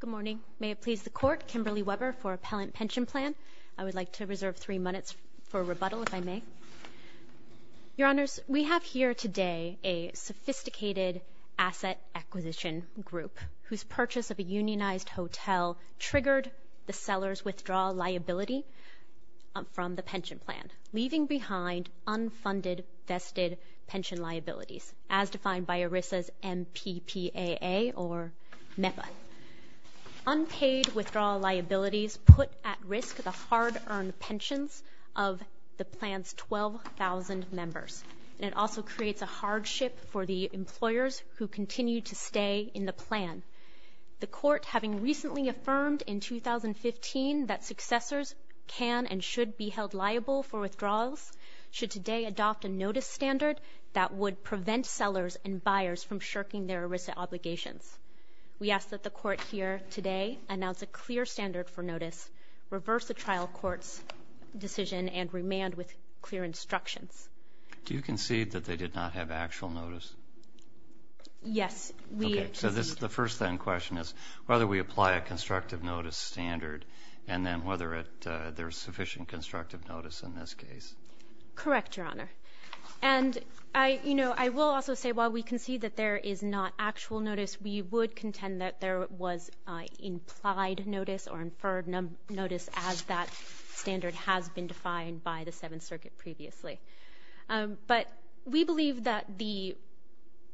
Good morning. May it please the Court, Kimberly Weber for Appellant Pension Plan. I would like to reserve three minutes for rebuttal, if I may. Your Honors, we have here today a sophisticated asset acquisition group whose purchase of a unionized hotel triggered the seller's withdrawal liability from the pension plan, leaving behind unfunded vested pension liabilities, as defined by ERISA's MPPAA or MEPA. Unpaid withdrawal liabilities put at risk the hard-earned pensions of the plan's 12,000 members, and it also creates a hardship for the employers who continue to stay in the plan. The Court, having recently affirmed in 2015 that successors can and should be held liable for withdrawals, should today adopt a notice standard that would prevent sellers and buyers from shirking their ERISA obligations. We ask that the Court here today announce a clear standard for notice, reverse the trial court's decision, and remand with clear instructions. Do you concede that they did not have actual notice? Yes, we concede. Okay, so the first then question is whether we apply a constructive notice standard, and then whether there is sufficient constructive notice in this case. Correct, Your Honor. And, you know, I will also say while we concede that there is not actual notice, we would contend that there was implied notice or inferred notice as that standard has been defined by the Seventh Circuit previously. But we believe that the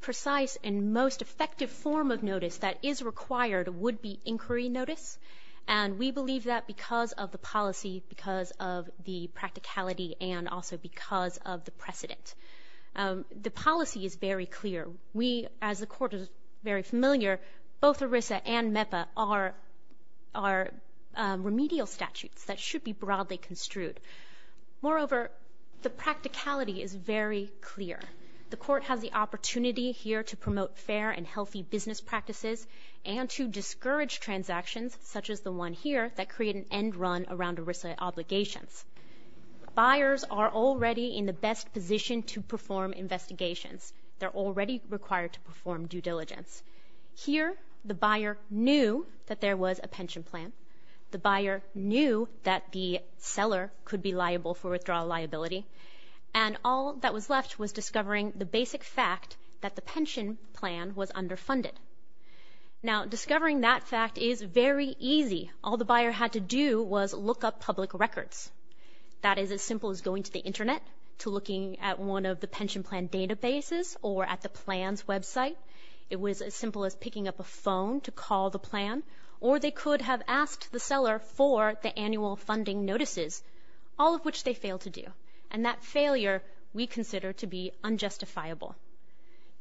precise and most effective form of notice that is required would be inquiry notice, and we believe that because of the policy, because of the practicality, and also because of the precedent. The policy is very clear. We, as the Court is very familiar, both ERISA and MEPA are remedial statutes that should be broadly construed. Moreover, the practicality is very clear. The Court has the opportunity here to promote fair and healthy business practices and to discourage transactions such as the one here that create an end run around ERISA obligations. Buyers are already in the best position to perform investigations. They're already required to perform due diligence. Here, the buyer knew that there was a pension plan. The buyer knew that the seller could be liable for withdrawal liability, and all that was left was discovering the basic fact that the pension plan was underfunded. Now, discovering that fact is very easy. All the buyer had to do was look up public records. That is as simple as going to the Internet to looking at one of the pension plan databases or at the plan's website. It was as simple as picking up a phone to call the plan, or they could have asked the seller for the annual funding notices, all of which they failed to do, and that failure we consider to be unjustifiable.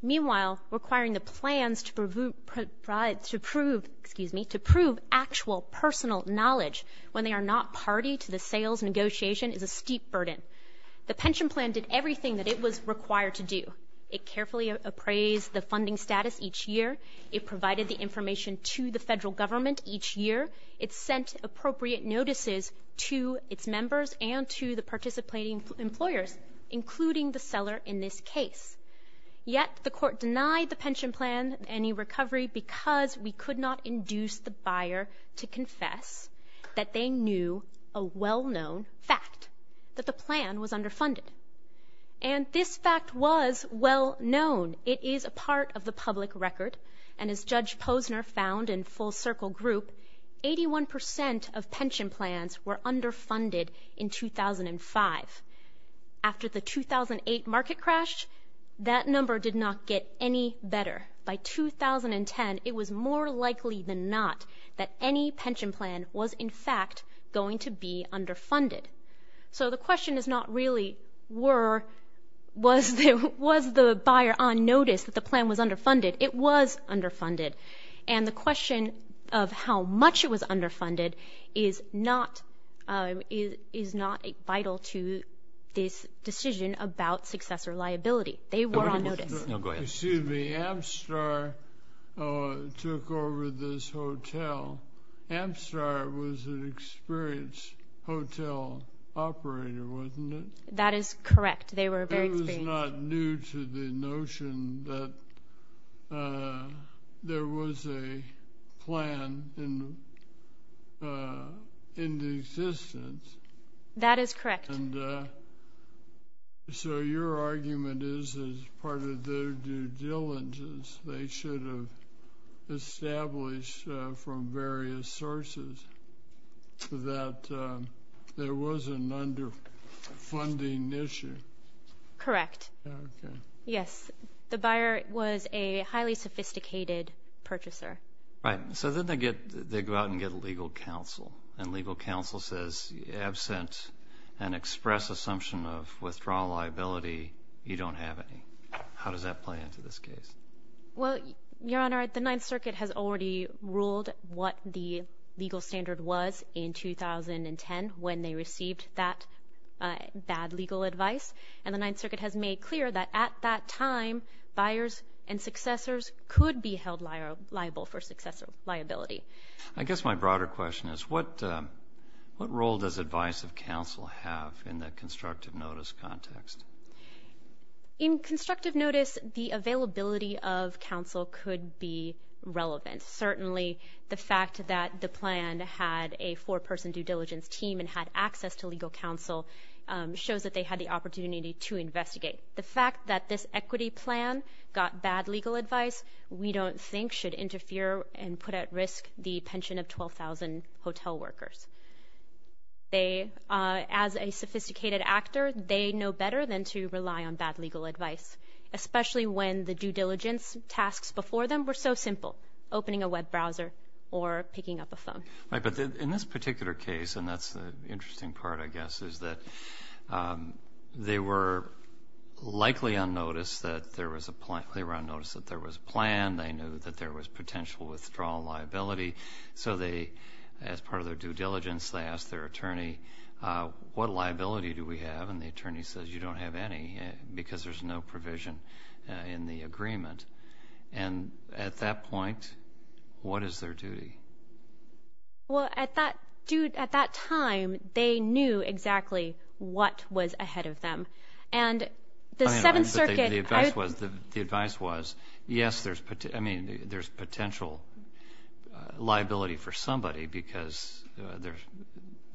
Meanwhile, requiring the plans to prove actual personal knowledge when they are not party to the sales negotiation is a steep burden. The pension plan did everything that it was required to do. It carefully appraised the funding status each year. It provided the information to the federal government each year. It sent appropriate notices to its members and to the participating employers, including the seller in this case. Yet, the court denied the pension plan any recovery because we could not induce the buyer to confess that they knew a well-known fact, that the plan was underfunded. And this fact was well-known. It is a part of the public record, and as a group, 81% of pension plans were underfunded in 2005. After the 2008 market crash, that number did not get any better. By 2010, it was more likely than not that any pension plan was in fact going to be underfunded. So the question is not really was the buyer on notice that the plan was underfunded. It was underfunded. And the question of how much it was underfunded is not vital to this decision about successor liability. They were on notice. Excuse me. Amstar took over this hotel. Amstar was an experienced hotel operator, wasn't it? That is correct. They were very experienced. It was not new to the notion that there was a plan in existence. That is correct. So your argument is as part of their due diligence, they should have established from various sources that there was an underfunded hotel underfunding issue. Correct. Yes. The buyer was a highly sophisticated purchaser. Right. So then they go out and get legal counsel. And legal counsel says, absent an express assumption of withdrawal liability, you don't have any. How does that play into this case? Well, Your Honor, the Ninth Circuit has already ruled what the legal standard was in 2010 when they received that bad legal advice. And the Ninth Circuit has made clear that at that time, buyers and successors could be held liable for successor liability. I guess my broader question is what role does advice of counsel have in the constructive notice context? In constructive notice, the availability of counsel could be relevant. Certainly the fact that the plan had a four-person due diligence team and had access to legal counsel shows that they had the opportunity to investigate. The fact that this equity plan got bad legal advice, we don't think should interfere and put at risk the pension of 12,000 hotel workers. As a sophisticated actor, they know better than to rely on bad opening a web browser or picking up a phone. Right. But in this particular case, and that's the interesting part, I guess, is that they were likely unnoticed that there was a plan. They were unnoticed that there was a plan. They knew that there was potential withdrawal liability. So they, as part of their due diligence, they asked their attorney, what liability do we have? And the attorney says, you don't have any because there's no provision in the case. What is their duty? Well, at that time, they knew exactly what was ahead of them. And the Seventh Circuit... The advice was, yes, there's potential liability for somebody because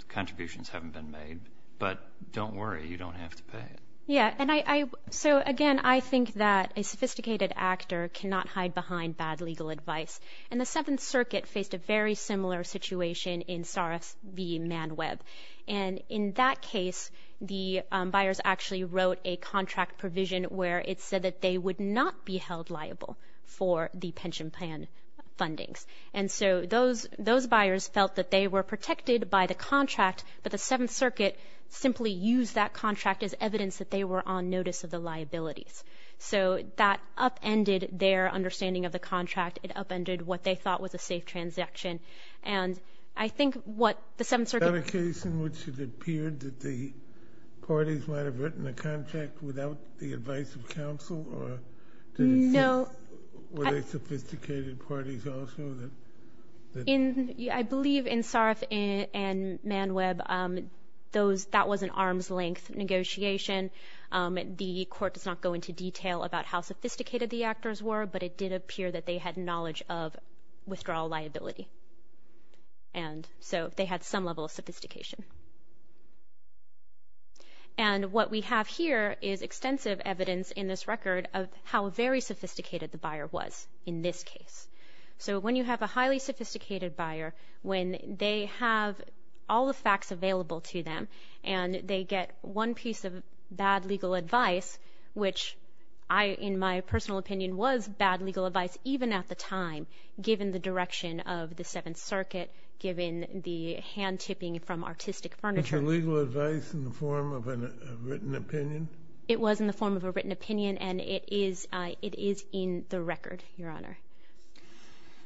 contributions haven't been made. But don't worry, you don't have to pay. Yeah. And I... So again, I think that a sophisticated actor cannot hide behind bad legal advice. And the Seventh Circuit faced a very similar situation in Saras v. Man Web. And in that case, the buyers actually wrote a contract provision where it said that they would not be held liable for the pension plan fundings. And so those buyers felt that they were protected by the contract, but the Seventh Circuit simply used that contract as evidence that they were on notice of the liabilities. So that upended their understanding of the contract. It upended what they thought was a safe transaction. And I think what the Seventh Circuit... Was that a case in which it appeared that the parties might have written a contract without the advice of counsel or... No. Were they sophisticated parties also that... I believe in Saras v. Man Web, that was an arm's length negotiation. The court does not go into detail about how sophisticated the actors were, but it did appear that they had knowledge of withdrawal liability. And so they had some level of sophistication. And what we have here is extensive evidence in this record of how very sophisticated the highly sophisticated buyer, when they have all the facts available to them, and they get one piece of bad legal advice, which I, in my personal opinion, was bad legal advice even at the time, given the direction of the Seventh Circuit, given the hand tipping from artistic furniture... Was the legal advice in the form of a written opinion? It was in the form of a written opinion, and it is in the record, Your Honor.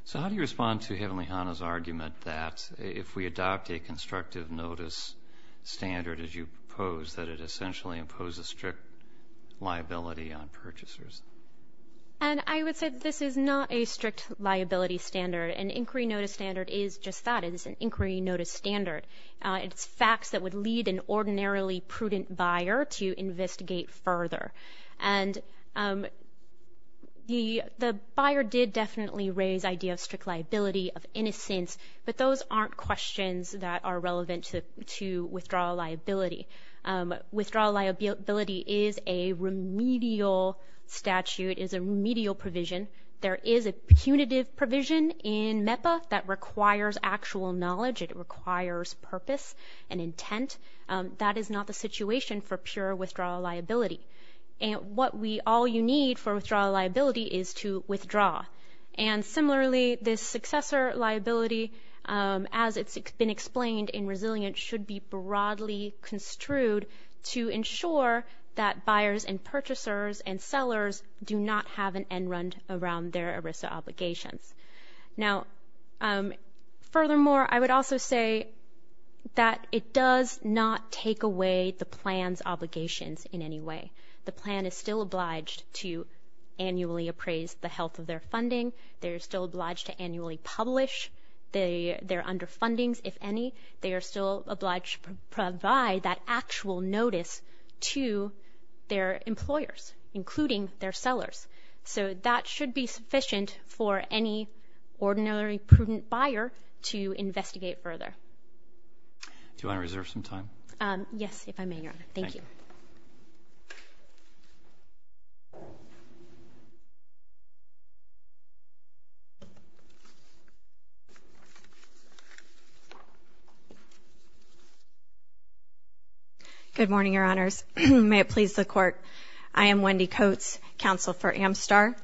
So how do you respond to Heavenly Hana's argument that if we adopt a constructive notice standard as you pose, that it essentially imposes strict liability on purchasers? And I would say that this is not a strict liability standard. An inquiry notice standard is just that. It is an inquiry notice standard. It's facts that would lead an ordinarily prudent buyer to investigate further. And the buyer did definitely raise the idea of strict liability, of innocence, but those aren't questions that are relevant to withdrawal liability. Withdrawal liability is a remedial statute, is a remedial provision. There is a punitive provision in intent. That is not the situation for pure withdrawal liability. And what we all need for withdrawal liability is to withdraw. And similarly, this successor liability, as it's been explained in Resilient, should be broadly construed to ensure that buyers and purchasers and sellers do not have an end-run around their ERISA obligations. Now, furthermore, I would also say that it does not take away the plan's obligations in any way. The plan is still obliged to annually appraise the health of their funding. They are still obliged to annually publish. They are under fundings, if any. They are still obliged to provide that actual notice to their employers, including their sellers. So that should be sufficient for any ordinary prudent buyer to investigate further. Do you want to reserve some time? Yes, if I may, Your Honor. Thank you. Good morning, Your Honors. May it please the Court. I am Wendy Coates, counsel for Amstar.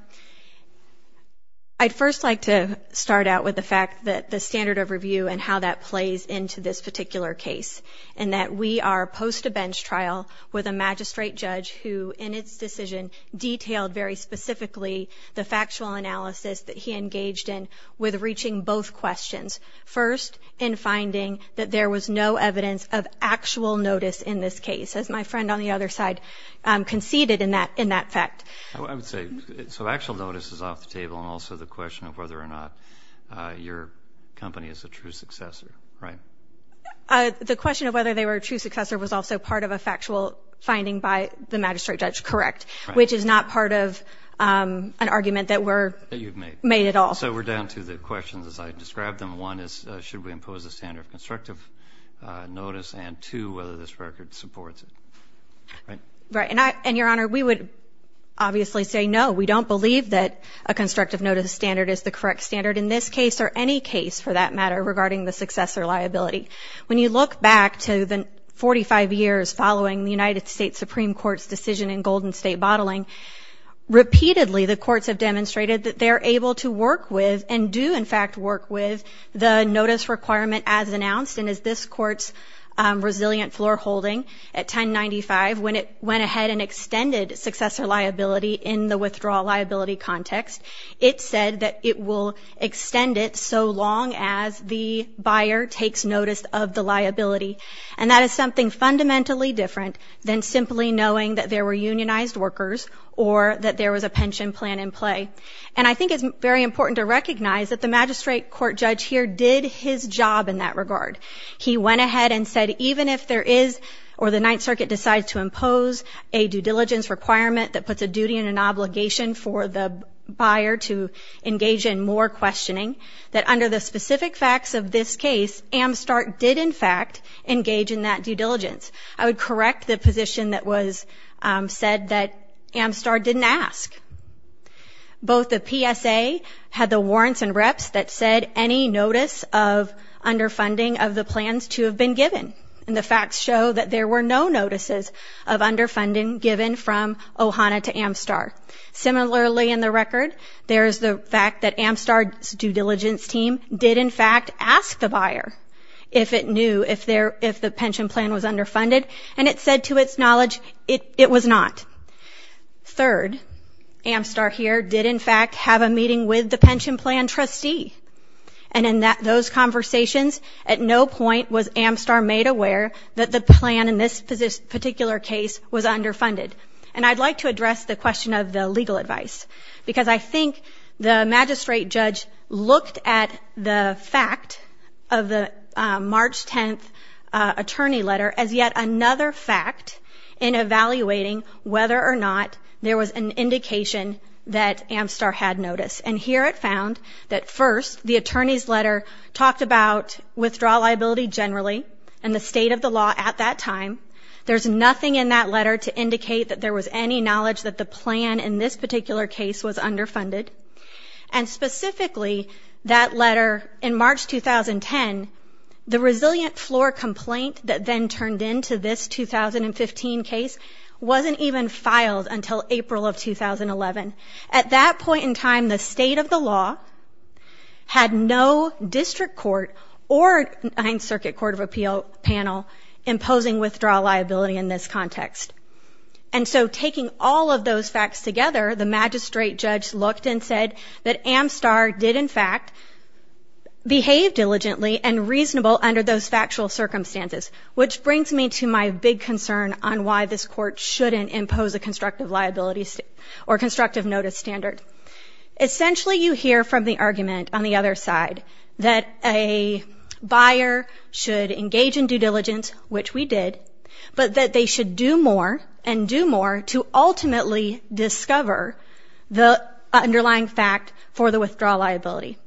I'd first like to start out with the fact that the standard of review and how that plays into this particular case, and that we are post a bench trial with a magistrate judge who, in its decision, detailed very specifically the factual analysis that he engaged in with reaching both questions. First, in finding that there was no evidence of actual notice in this case, as my friend on the other side conceded in that fact. I would say, so actual notice is off the table, and also the question of whether or not your company is a true successor, right? The question of whether they were a true successor was also part of a factual finding by the magistrate judge, correct, which is not part of an argument that we're made at all. So we're down to the questions, as I described them. One is, should we impose a standard of constructive notice, and two, whether this record supports it, right? Right, and Your Honor, we would obviously say no. We don't believe that a constructive notice standard is the correct standard in this case, or any case, for that matter, regarding the successor liability. When you look back to the 45 years following the United States Supreme Court's decision in Golden State Bottling, repeatedly the courts have demonstrated that they're able to work with, and do in fact work with, the notice requirement as announced, and as this Court's resilient floor holding at 1095, when it went ahead and extended successor liability in the withdrawal liability context, it said that it will extend it so long as the buyer takes notice of the liability. And that is something fundamentally different than simply knowing that there were unionized workers, or that there was a pension plan in play. And I think it's very important to recognize that the magistrate court judge here did his job in that regard. He went ahead and said, even if there is, or the Ninth Circuit decides to impose a due diligence requirement that puts a duty and an obligation for the buyer to engage in more questioning, that under the specific facts of this case, Amstart did in fact engage in that due diligence. I would correct the position that was said that Amstart didn't ask. Both the PSA had the warrants and reps that said any notice of underfunding of the plans to have been given. And the facts show that there were no notices of underfunding given from OHANA to Amstart. Similarly, in the record, there's the fact that Amstart's due diligence team did in fact ask the buyer if it knew if the pension plan was underfunded, and it said to its knowledge it was not. Third, Amstart here did in fact have a meeting with the pension plan trustee. And in those conversations, at no point was Amstart made aware that the plan in this particular case was underfunded. And I'd like to address the question of the legal advice, because I think the magistrate judge looked at the fact of the March 10th attorney letter as yet another fact in evaluating whether or not there was an indication that Amstart had notice. And here it found that first, the attorney's letter talked about withdrawal liability generally and the state of the law at that time. There's nothing in that letter to indicate that there was any knowledge that the plan in this particular case was underfunded. And specifically, that letter in March 2010, the resilient floor complaint that then turned into this 2015 case, wasn't even filed until April of 2011. At that point in time, the state of the law had no district court or Ninth Circuit Court of Appeal panel imposing withdrawal liability in this context. And so taking all of those facts together, the magistrate judge looked and said that Amstart did in fact behave diligently and reasonable under those factual circumstances, which brings me to my big concern on why this court shouldn't impose a constructive liability or constructive notice standard. Essentially, you hear from the argument on the other side that a buyer should engage in due diligence, which we did, but that they should do more and do more to ultimately discover the underlying fact for the withdrawal liability.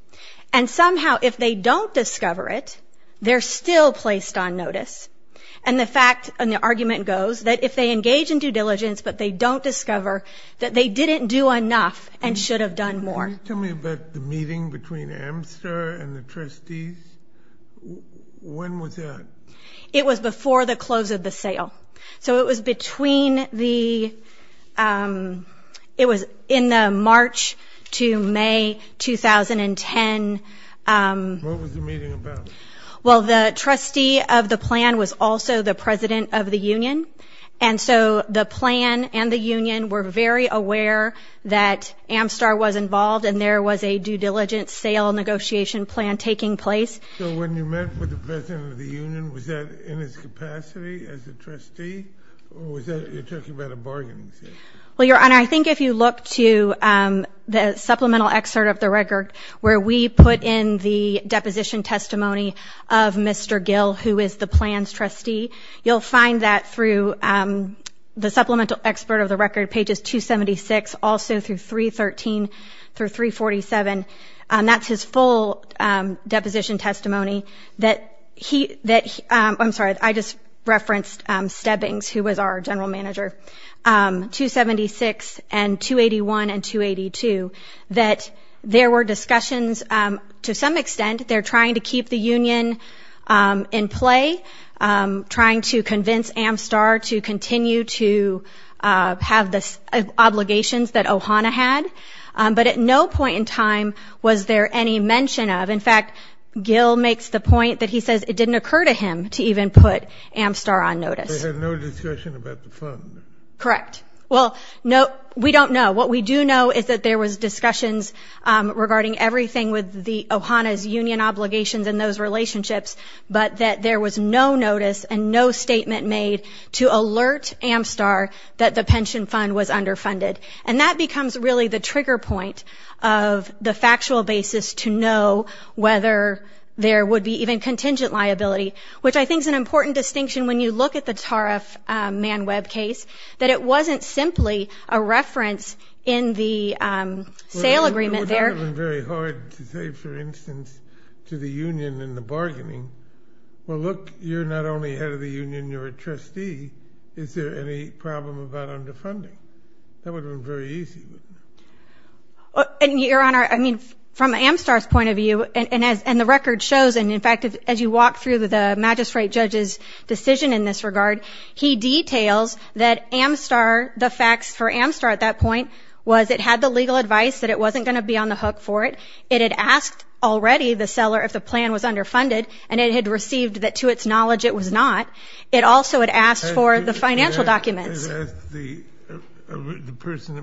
And somehow, if they don't discover it, they're still placed on notice. And the argument goes that if they engage in due diligence, but they don't discover that they didn't do enough and should have done more. Can you tell me about the meeting between Amstart and the trustees? When was that? It was before the close of the sale. So it was between the, it was in the March to May 2010. What was the meeting about? Well, the trustee of the plan was also the president of the union. And so the plan and the union were very aware that Amstar was involved and there was a due diligence sale negotiation plan taking place. So when you met with the president of the union, was that in his capacity as a trustee? Or was that, you're talking about a bargaining session? Well, Your Honor, I think if you look to the supplemental excerpt of the record where we put in the deposition testimony of Mr. Gill, who is the plan's trustee, you'll find that through the supplemental that he, I'm sorry, I just referenced Stebbings, who was our general manager, 276 and 281 and 282, that there were discussions, to some extent, they're trying to keep the union in play, trying to convince Amstar to continue to have the obligations that Ohana had. But at no point in time was there any mention of, in fact, Gill makes the point that he says it didn't occur to him to even put Amstar on notice. They had no discussion about the fund? Correct. Well, we don't know. What we do know is that there was discussions regarding everything with Ohana's union obligations and those relationships, but that there was no notice and no statement made to alert Amstar that the pension fund was underfunded. And that becomes really the trigger point of the factual basis to know whether there would be even contingent liability, which I think is an important distinction when you look at the Tariff Man Web case, that it wasn't simply a reference in the sale agreement there. It would have been very hard to say, for instance, to the union in the bargaining, well, look, you're not only head of the union, you're a trustee. Is there any problem about underfunding? That would have been very easy. Your Honor, I mean, from Amstar's point of view, and the record shows, and in fact, as you walk through the magistrate judge's decision in this regard, he details that Amstar, the facts for Amstar at that point was it had the legal advice that it wasn't going to be on the hook for it. It had asked already the seller if the plan was underfunded, and it had received that to its knowledge it was not. It also had asked for the financial documents. It asked the person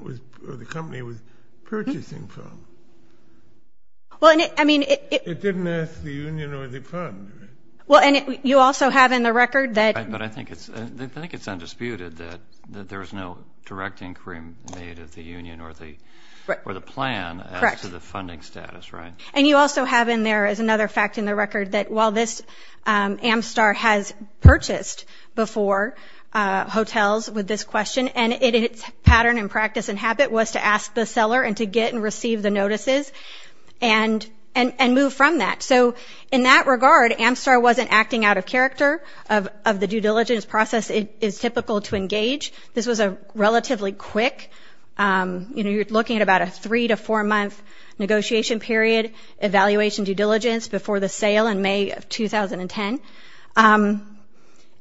or the company it was purchasing from. It didn't ask the union or the fund. Well, and you also have in the record that. But I think it's undisputed that there was no direct inquiry made at the union or the plan as to the funding status, right? And you also have in there is another fact in the record that while this, Amstar has purchased before hotels with this question, and its pattern and practice and habit was to ask the seller and to get and receive the notices and move from that. So in that regard, Amstar wasn't acting out of character. Of the due diligence process, it is typical to engage. This was a relatively quick, you know, looking at about a three to four month negotiation period, evaluation due diligence before the sale in May of 2010.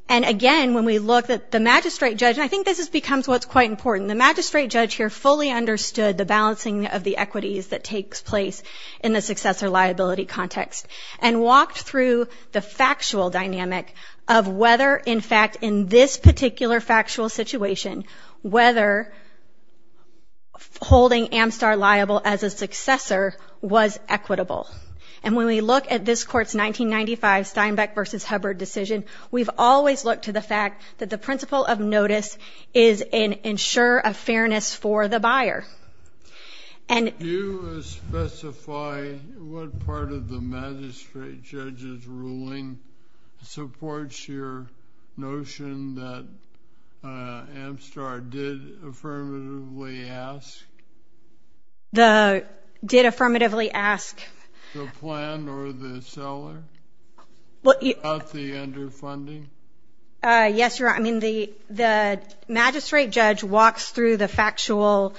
And again, when we look at the magistrate judge, I think this is becomes what's quite important. The magistrate judge here fully understood the balancing of the equities that takes place in the successor liability context and walked through the factual dynamic of whether, in fact, in this particular factual situation, whether holding Amstar liable as a successor was equitable. And when we look at this court's 1995 Steinbeck versus Hubbard decision, we've always looked to the fact that the principle of notice is an ensure of fairness for the buyer. Do you specify what part of the magistrate judge's ruling supports your notion that Amstar did affirmatively ask? Did affirmatively ask? The plan or the seller? About the underfunding? Yes, Your Honor. I mean, the magistrate judge walks through the factual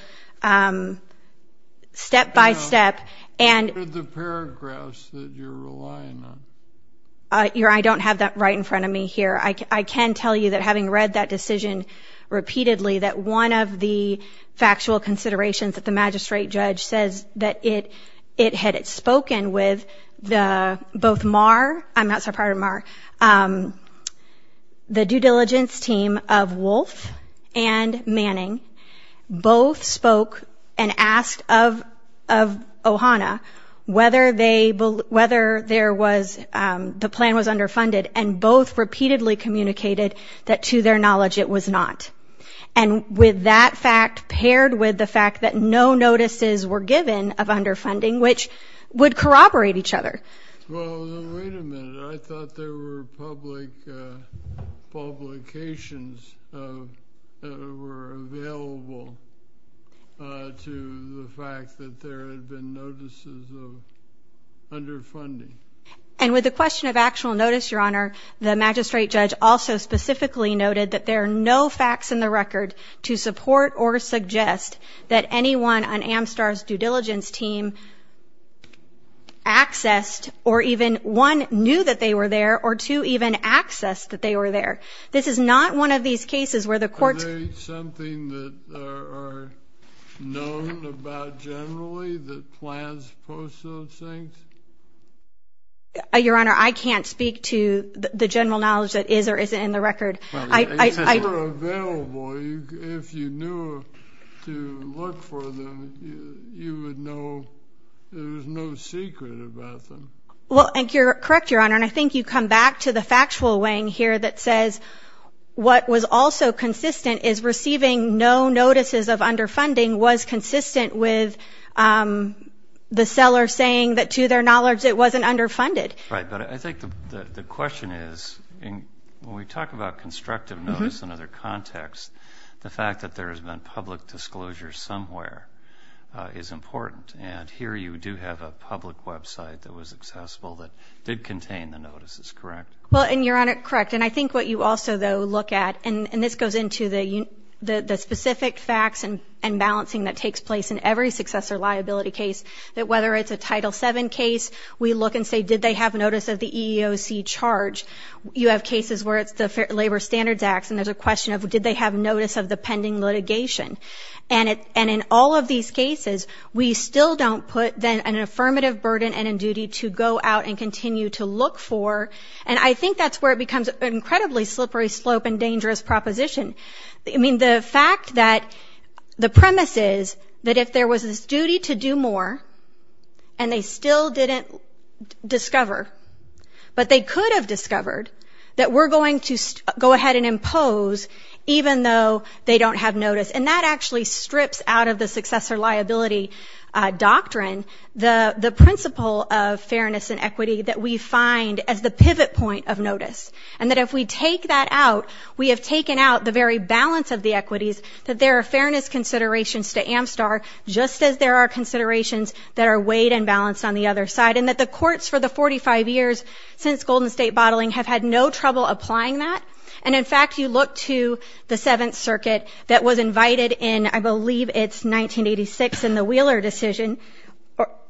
step by step. What are the paragraphs that you're relying on? Your Honor, I don't have that right in front of me here. I can tell you that having read that decision repeatedly that one of the factual considerations that the magistrate judge says that it had spoken with both Marr, I'm not so proud of Marr, the due diligence team of Wolf and Manning, both spoke and asked of Ohana whether the plan was underfunded and both repeatedly communicated that to their knowledge it was not. And with that fact paired with the fact that no notices were given of underfunding, which would corroborate each other. Well, wait a minute. I thought there were public publications that were available to the fact that there had been notices of underfunding. And with the question of actual notice, Your Honor, the magistrate judge also specifically noted that there are no facts in the record to support or suggest that anyone on Amstar's due diligence team accessed or even, one, knew that they were there, or two, even accessed that they were there. This is not one of these cases where the court's. Are they something that are known about generally that plans post those things? Your Honor, I can't speak to the general knowledge that is or isn't in the record. If they were available, if you knew to look for them, you would know there was no secret about them. Well, you're correct, Your Honor, and I think you come back to the factual weighing here that says what was also consistent is receiving no notices of underfunding was consistent with the seller saying that to their knowledge it wasn't underfunded. Right, but I think the question is when we talk about constructive notice in other contexts, the fact that there has been public disclosure somewhere is important, and here you do have a public website that was accessible that did contain the notices, correct? Well, and you're correct, and I think what you also, though, look at, and this goes into the specific facts and balancing that takes place in every successor liability case, that whether it's a Title VII case, we look and say did they have notice of the EEOC charge? You have cases where it's the Labor Standards Acts, and there's a question of did they have notice of the pending litigation? And in all of these cases, we still don't put an affirmative burden and a duty to go out and continue to look for, and I think that's where it becomes an incredibly slippery slope and dangerous proposition. I mean, the fact that the premise is that if there was this duty to do more and they still didn't discover, but they could have discovered that we're going to go ahead and impose even though they don't have notice, and that actually strips out of the successor liability doctrine the principle of fairness and equity that we find as the pivot point of notice, and that if we take that out, we have taken out the very balance of the equities that there are fairness considerations to Amstar, just as there are considerations that are weighed and balanced on the other side, and that the courts for the 45 years since Golden State bottling have had no trouble applying that. And, in fact, you look to the Seventh Circuit that was invited in, I believe it's 1986 in the Wheeler decision,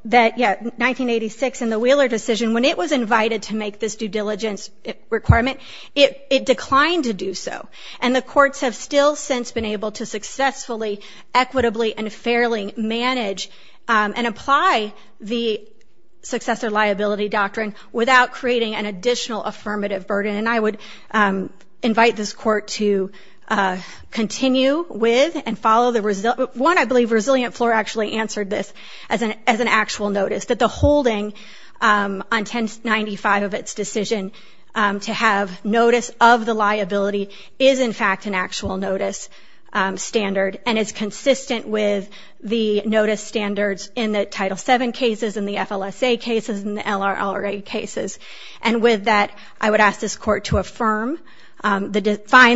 that, yeah, 1986 in the Wheeler decision, when it was invited to make this due diligence requirement, it declined to do so, and the courts have still since been able to successfully, equitably, and fairly manage and apply the successor liability doctrine without creating an additional affirmative burden, and I would invite this court to continue with and follow the resi- one, I believe Resilient Floor actually answered this as an actual notice, that the holding on 1095 of its decision to have notice of the liability is, in fact, an actual notice standard and is consistent with the notice standards in the Title VII cases and the FLSA cases and the LRLA cases, and with that, I would ask this court to affirm, find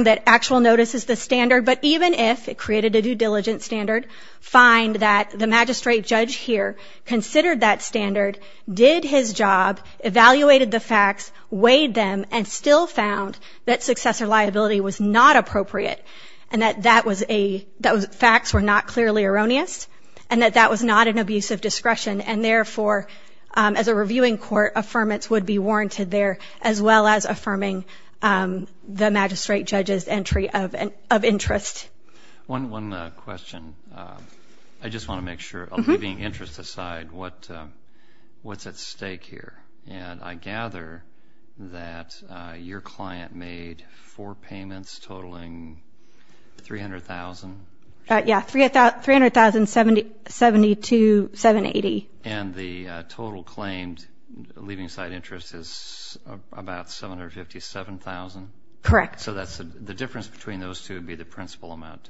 that actual notice is the standard, but even if it created a due diligence standard, find that the magistrate judge here considered that standard, did his job, evaluated the facts, weighed them, and still found that successor liability was not appropriate and that that was a- that facts were not clearly erroneous and that that was not an abuse of discretion, and, therefore, as a reviewing court, affirmance would be warranted there, as well as affirming the magistrate judge's entry of interest. One question. I just want to make sure, leaving interest aside, what's at stake here, and I gather that your client made four payments totaling $300,000? Yeah, $300,000, $70,000, $72,000, $780,000. And the total claimed leaving side interest is about $757,000? Correct. So that's the difference between those two would be the principal amount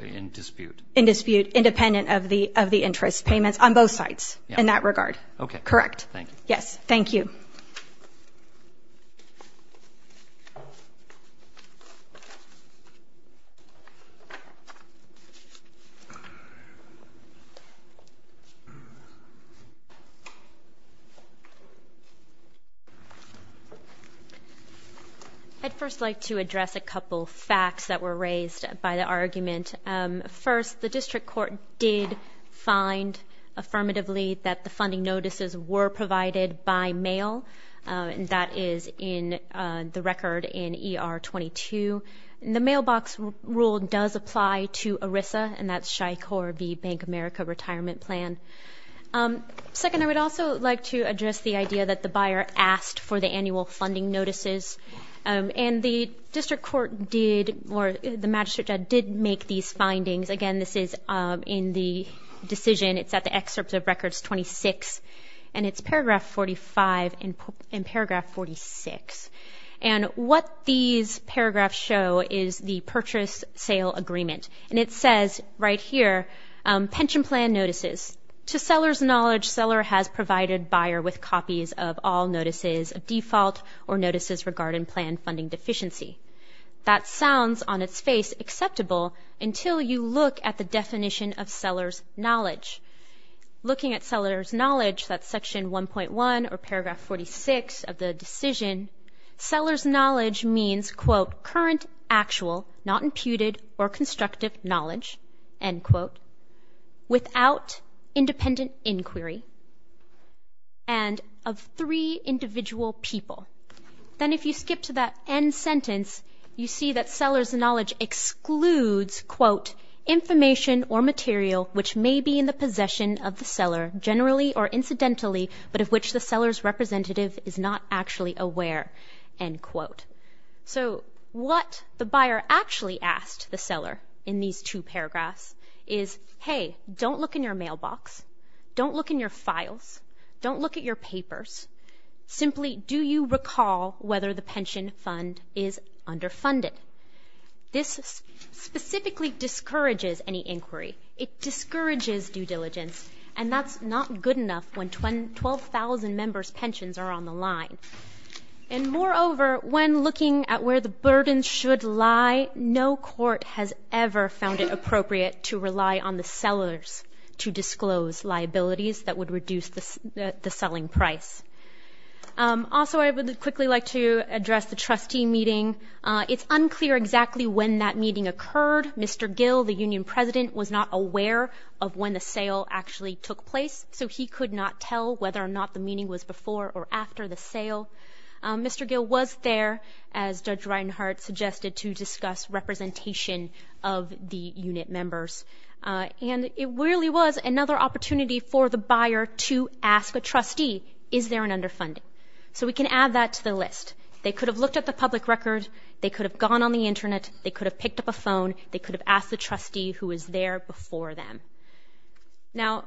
in dispute? In dispute, independent of the interest payments on both sides in that regard. Okay. Thank you. Yes, thank you. I'd first like to address a couple facts that were raised by the argument. First, the district court did find affirmatively that the funding notices were provided by mail, and that is in the record in ER 22. The mailbox rule does apply to ERISA, and that's SHI-CORB, Bank of America Retirement Plan. Second, I would also like to address the idea that the buyer asked for the annual funding notices, and the district court did, or the magistrate judge did make these findings. Again, this is in the decision. It's at the excerpt of records 26, and it's paragraph 45 and paragraph 46. And what these paragraphs show is the purchase-sale agreement, and it says right here, pension plan notices. To seller's knowledge, seller has provided buyer with copies of all notices of default or notices regarding plan funding deficiency. That sounds on its face acceptable until you look at the definition of seller's knowledge. Looking at seller's knowledge, that's section 1.1 or paragraph 46 of the decision, seller's knowledge means, quote, current, actual, not imputed or constructive knowledge, end quote, without independent inquiry, and of three individual people. Then if you skip to that end sentence, you see that seller's knowledge excludes, quote, information or material which may be in the possession of the seller generally or incidentally, but of which the seller's representative is not actually aware, end quote. So what the buyer actually asked the seller in these two paragraphs is, hey, don't look in your mailbox. Don't look in your files. Don't look at your papers. Simply do you recall whether the pension fund is underfunded? This specifically discourages any inquiry. It discourages due diligence, and that's not good enough when 12,000 members' pensions are on the line. And moreover, when looking at where the burden should lie, no court has ever found it appropriate to rely on the sellers to disclose liabilities that would reduce the selling price. Also, I would quickly like to address the trustee meeting. It's unclear exactly when that meeting occurred. Mr. Gill, the union president, was not aware of when the sale actually took place, so he could not tell whether or not the meeting was before or after the sale. Mr. Gill was there, as Judge Reinhart suggested, to discuss representation of the unit members. And it really was another opportunity for the buyer to ask a trustee, is there an underfunding? So we can add that to the list. They could have looked at the public record, they could have gone on the Internet, they could have picked up a phone, they could have asked the trustee who was there before them. Now,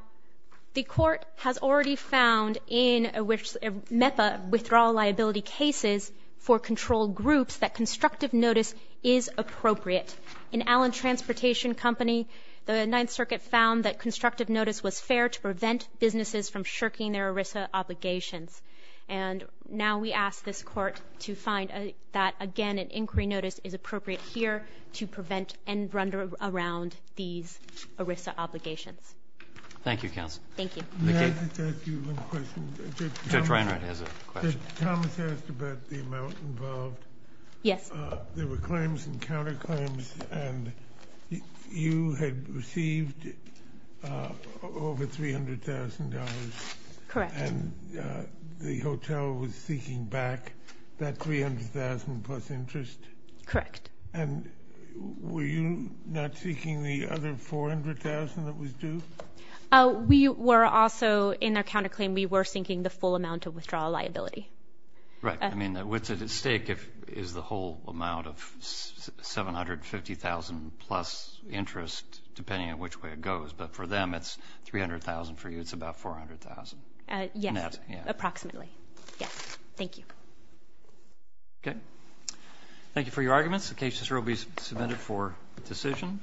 the court has already found in MEPA withdrawal liability cases for controlled groups that constructive notice is appropriate. In Allen Transportation Company, the Ninth Circuit found that constructive notice was fair to prevent businesses from shirking their ERISA obligations. And now we ask this court to find that, again, an inquiry notice is appropriate here to prevent and run around these ERISA obligations. Thank you, counsel. Thank you. May I just ask you one question? Judge Reinhart has a question. Judge Thomas asked about the amount involved. Yes. There were claims and counterclaims, and you had received over $300,000. Correct. And the hotel was seeking back that $300,000 plus interest? Correct. And were you not seeking the other $400,000 that was due? We were also, in our counterclaim, we were seeking the full amount of withdrawal liability. Right. I mean, what's at stake is the whole amount of $750,000 plus interest, depending on which way it goes. But for them, it's $300,000. For you, it's about $400,000. Yes. Approximately. Yes. Thank you. Okay. Thank you for your arguments. The cases will be submitted for decision.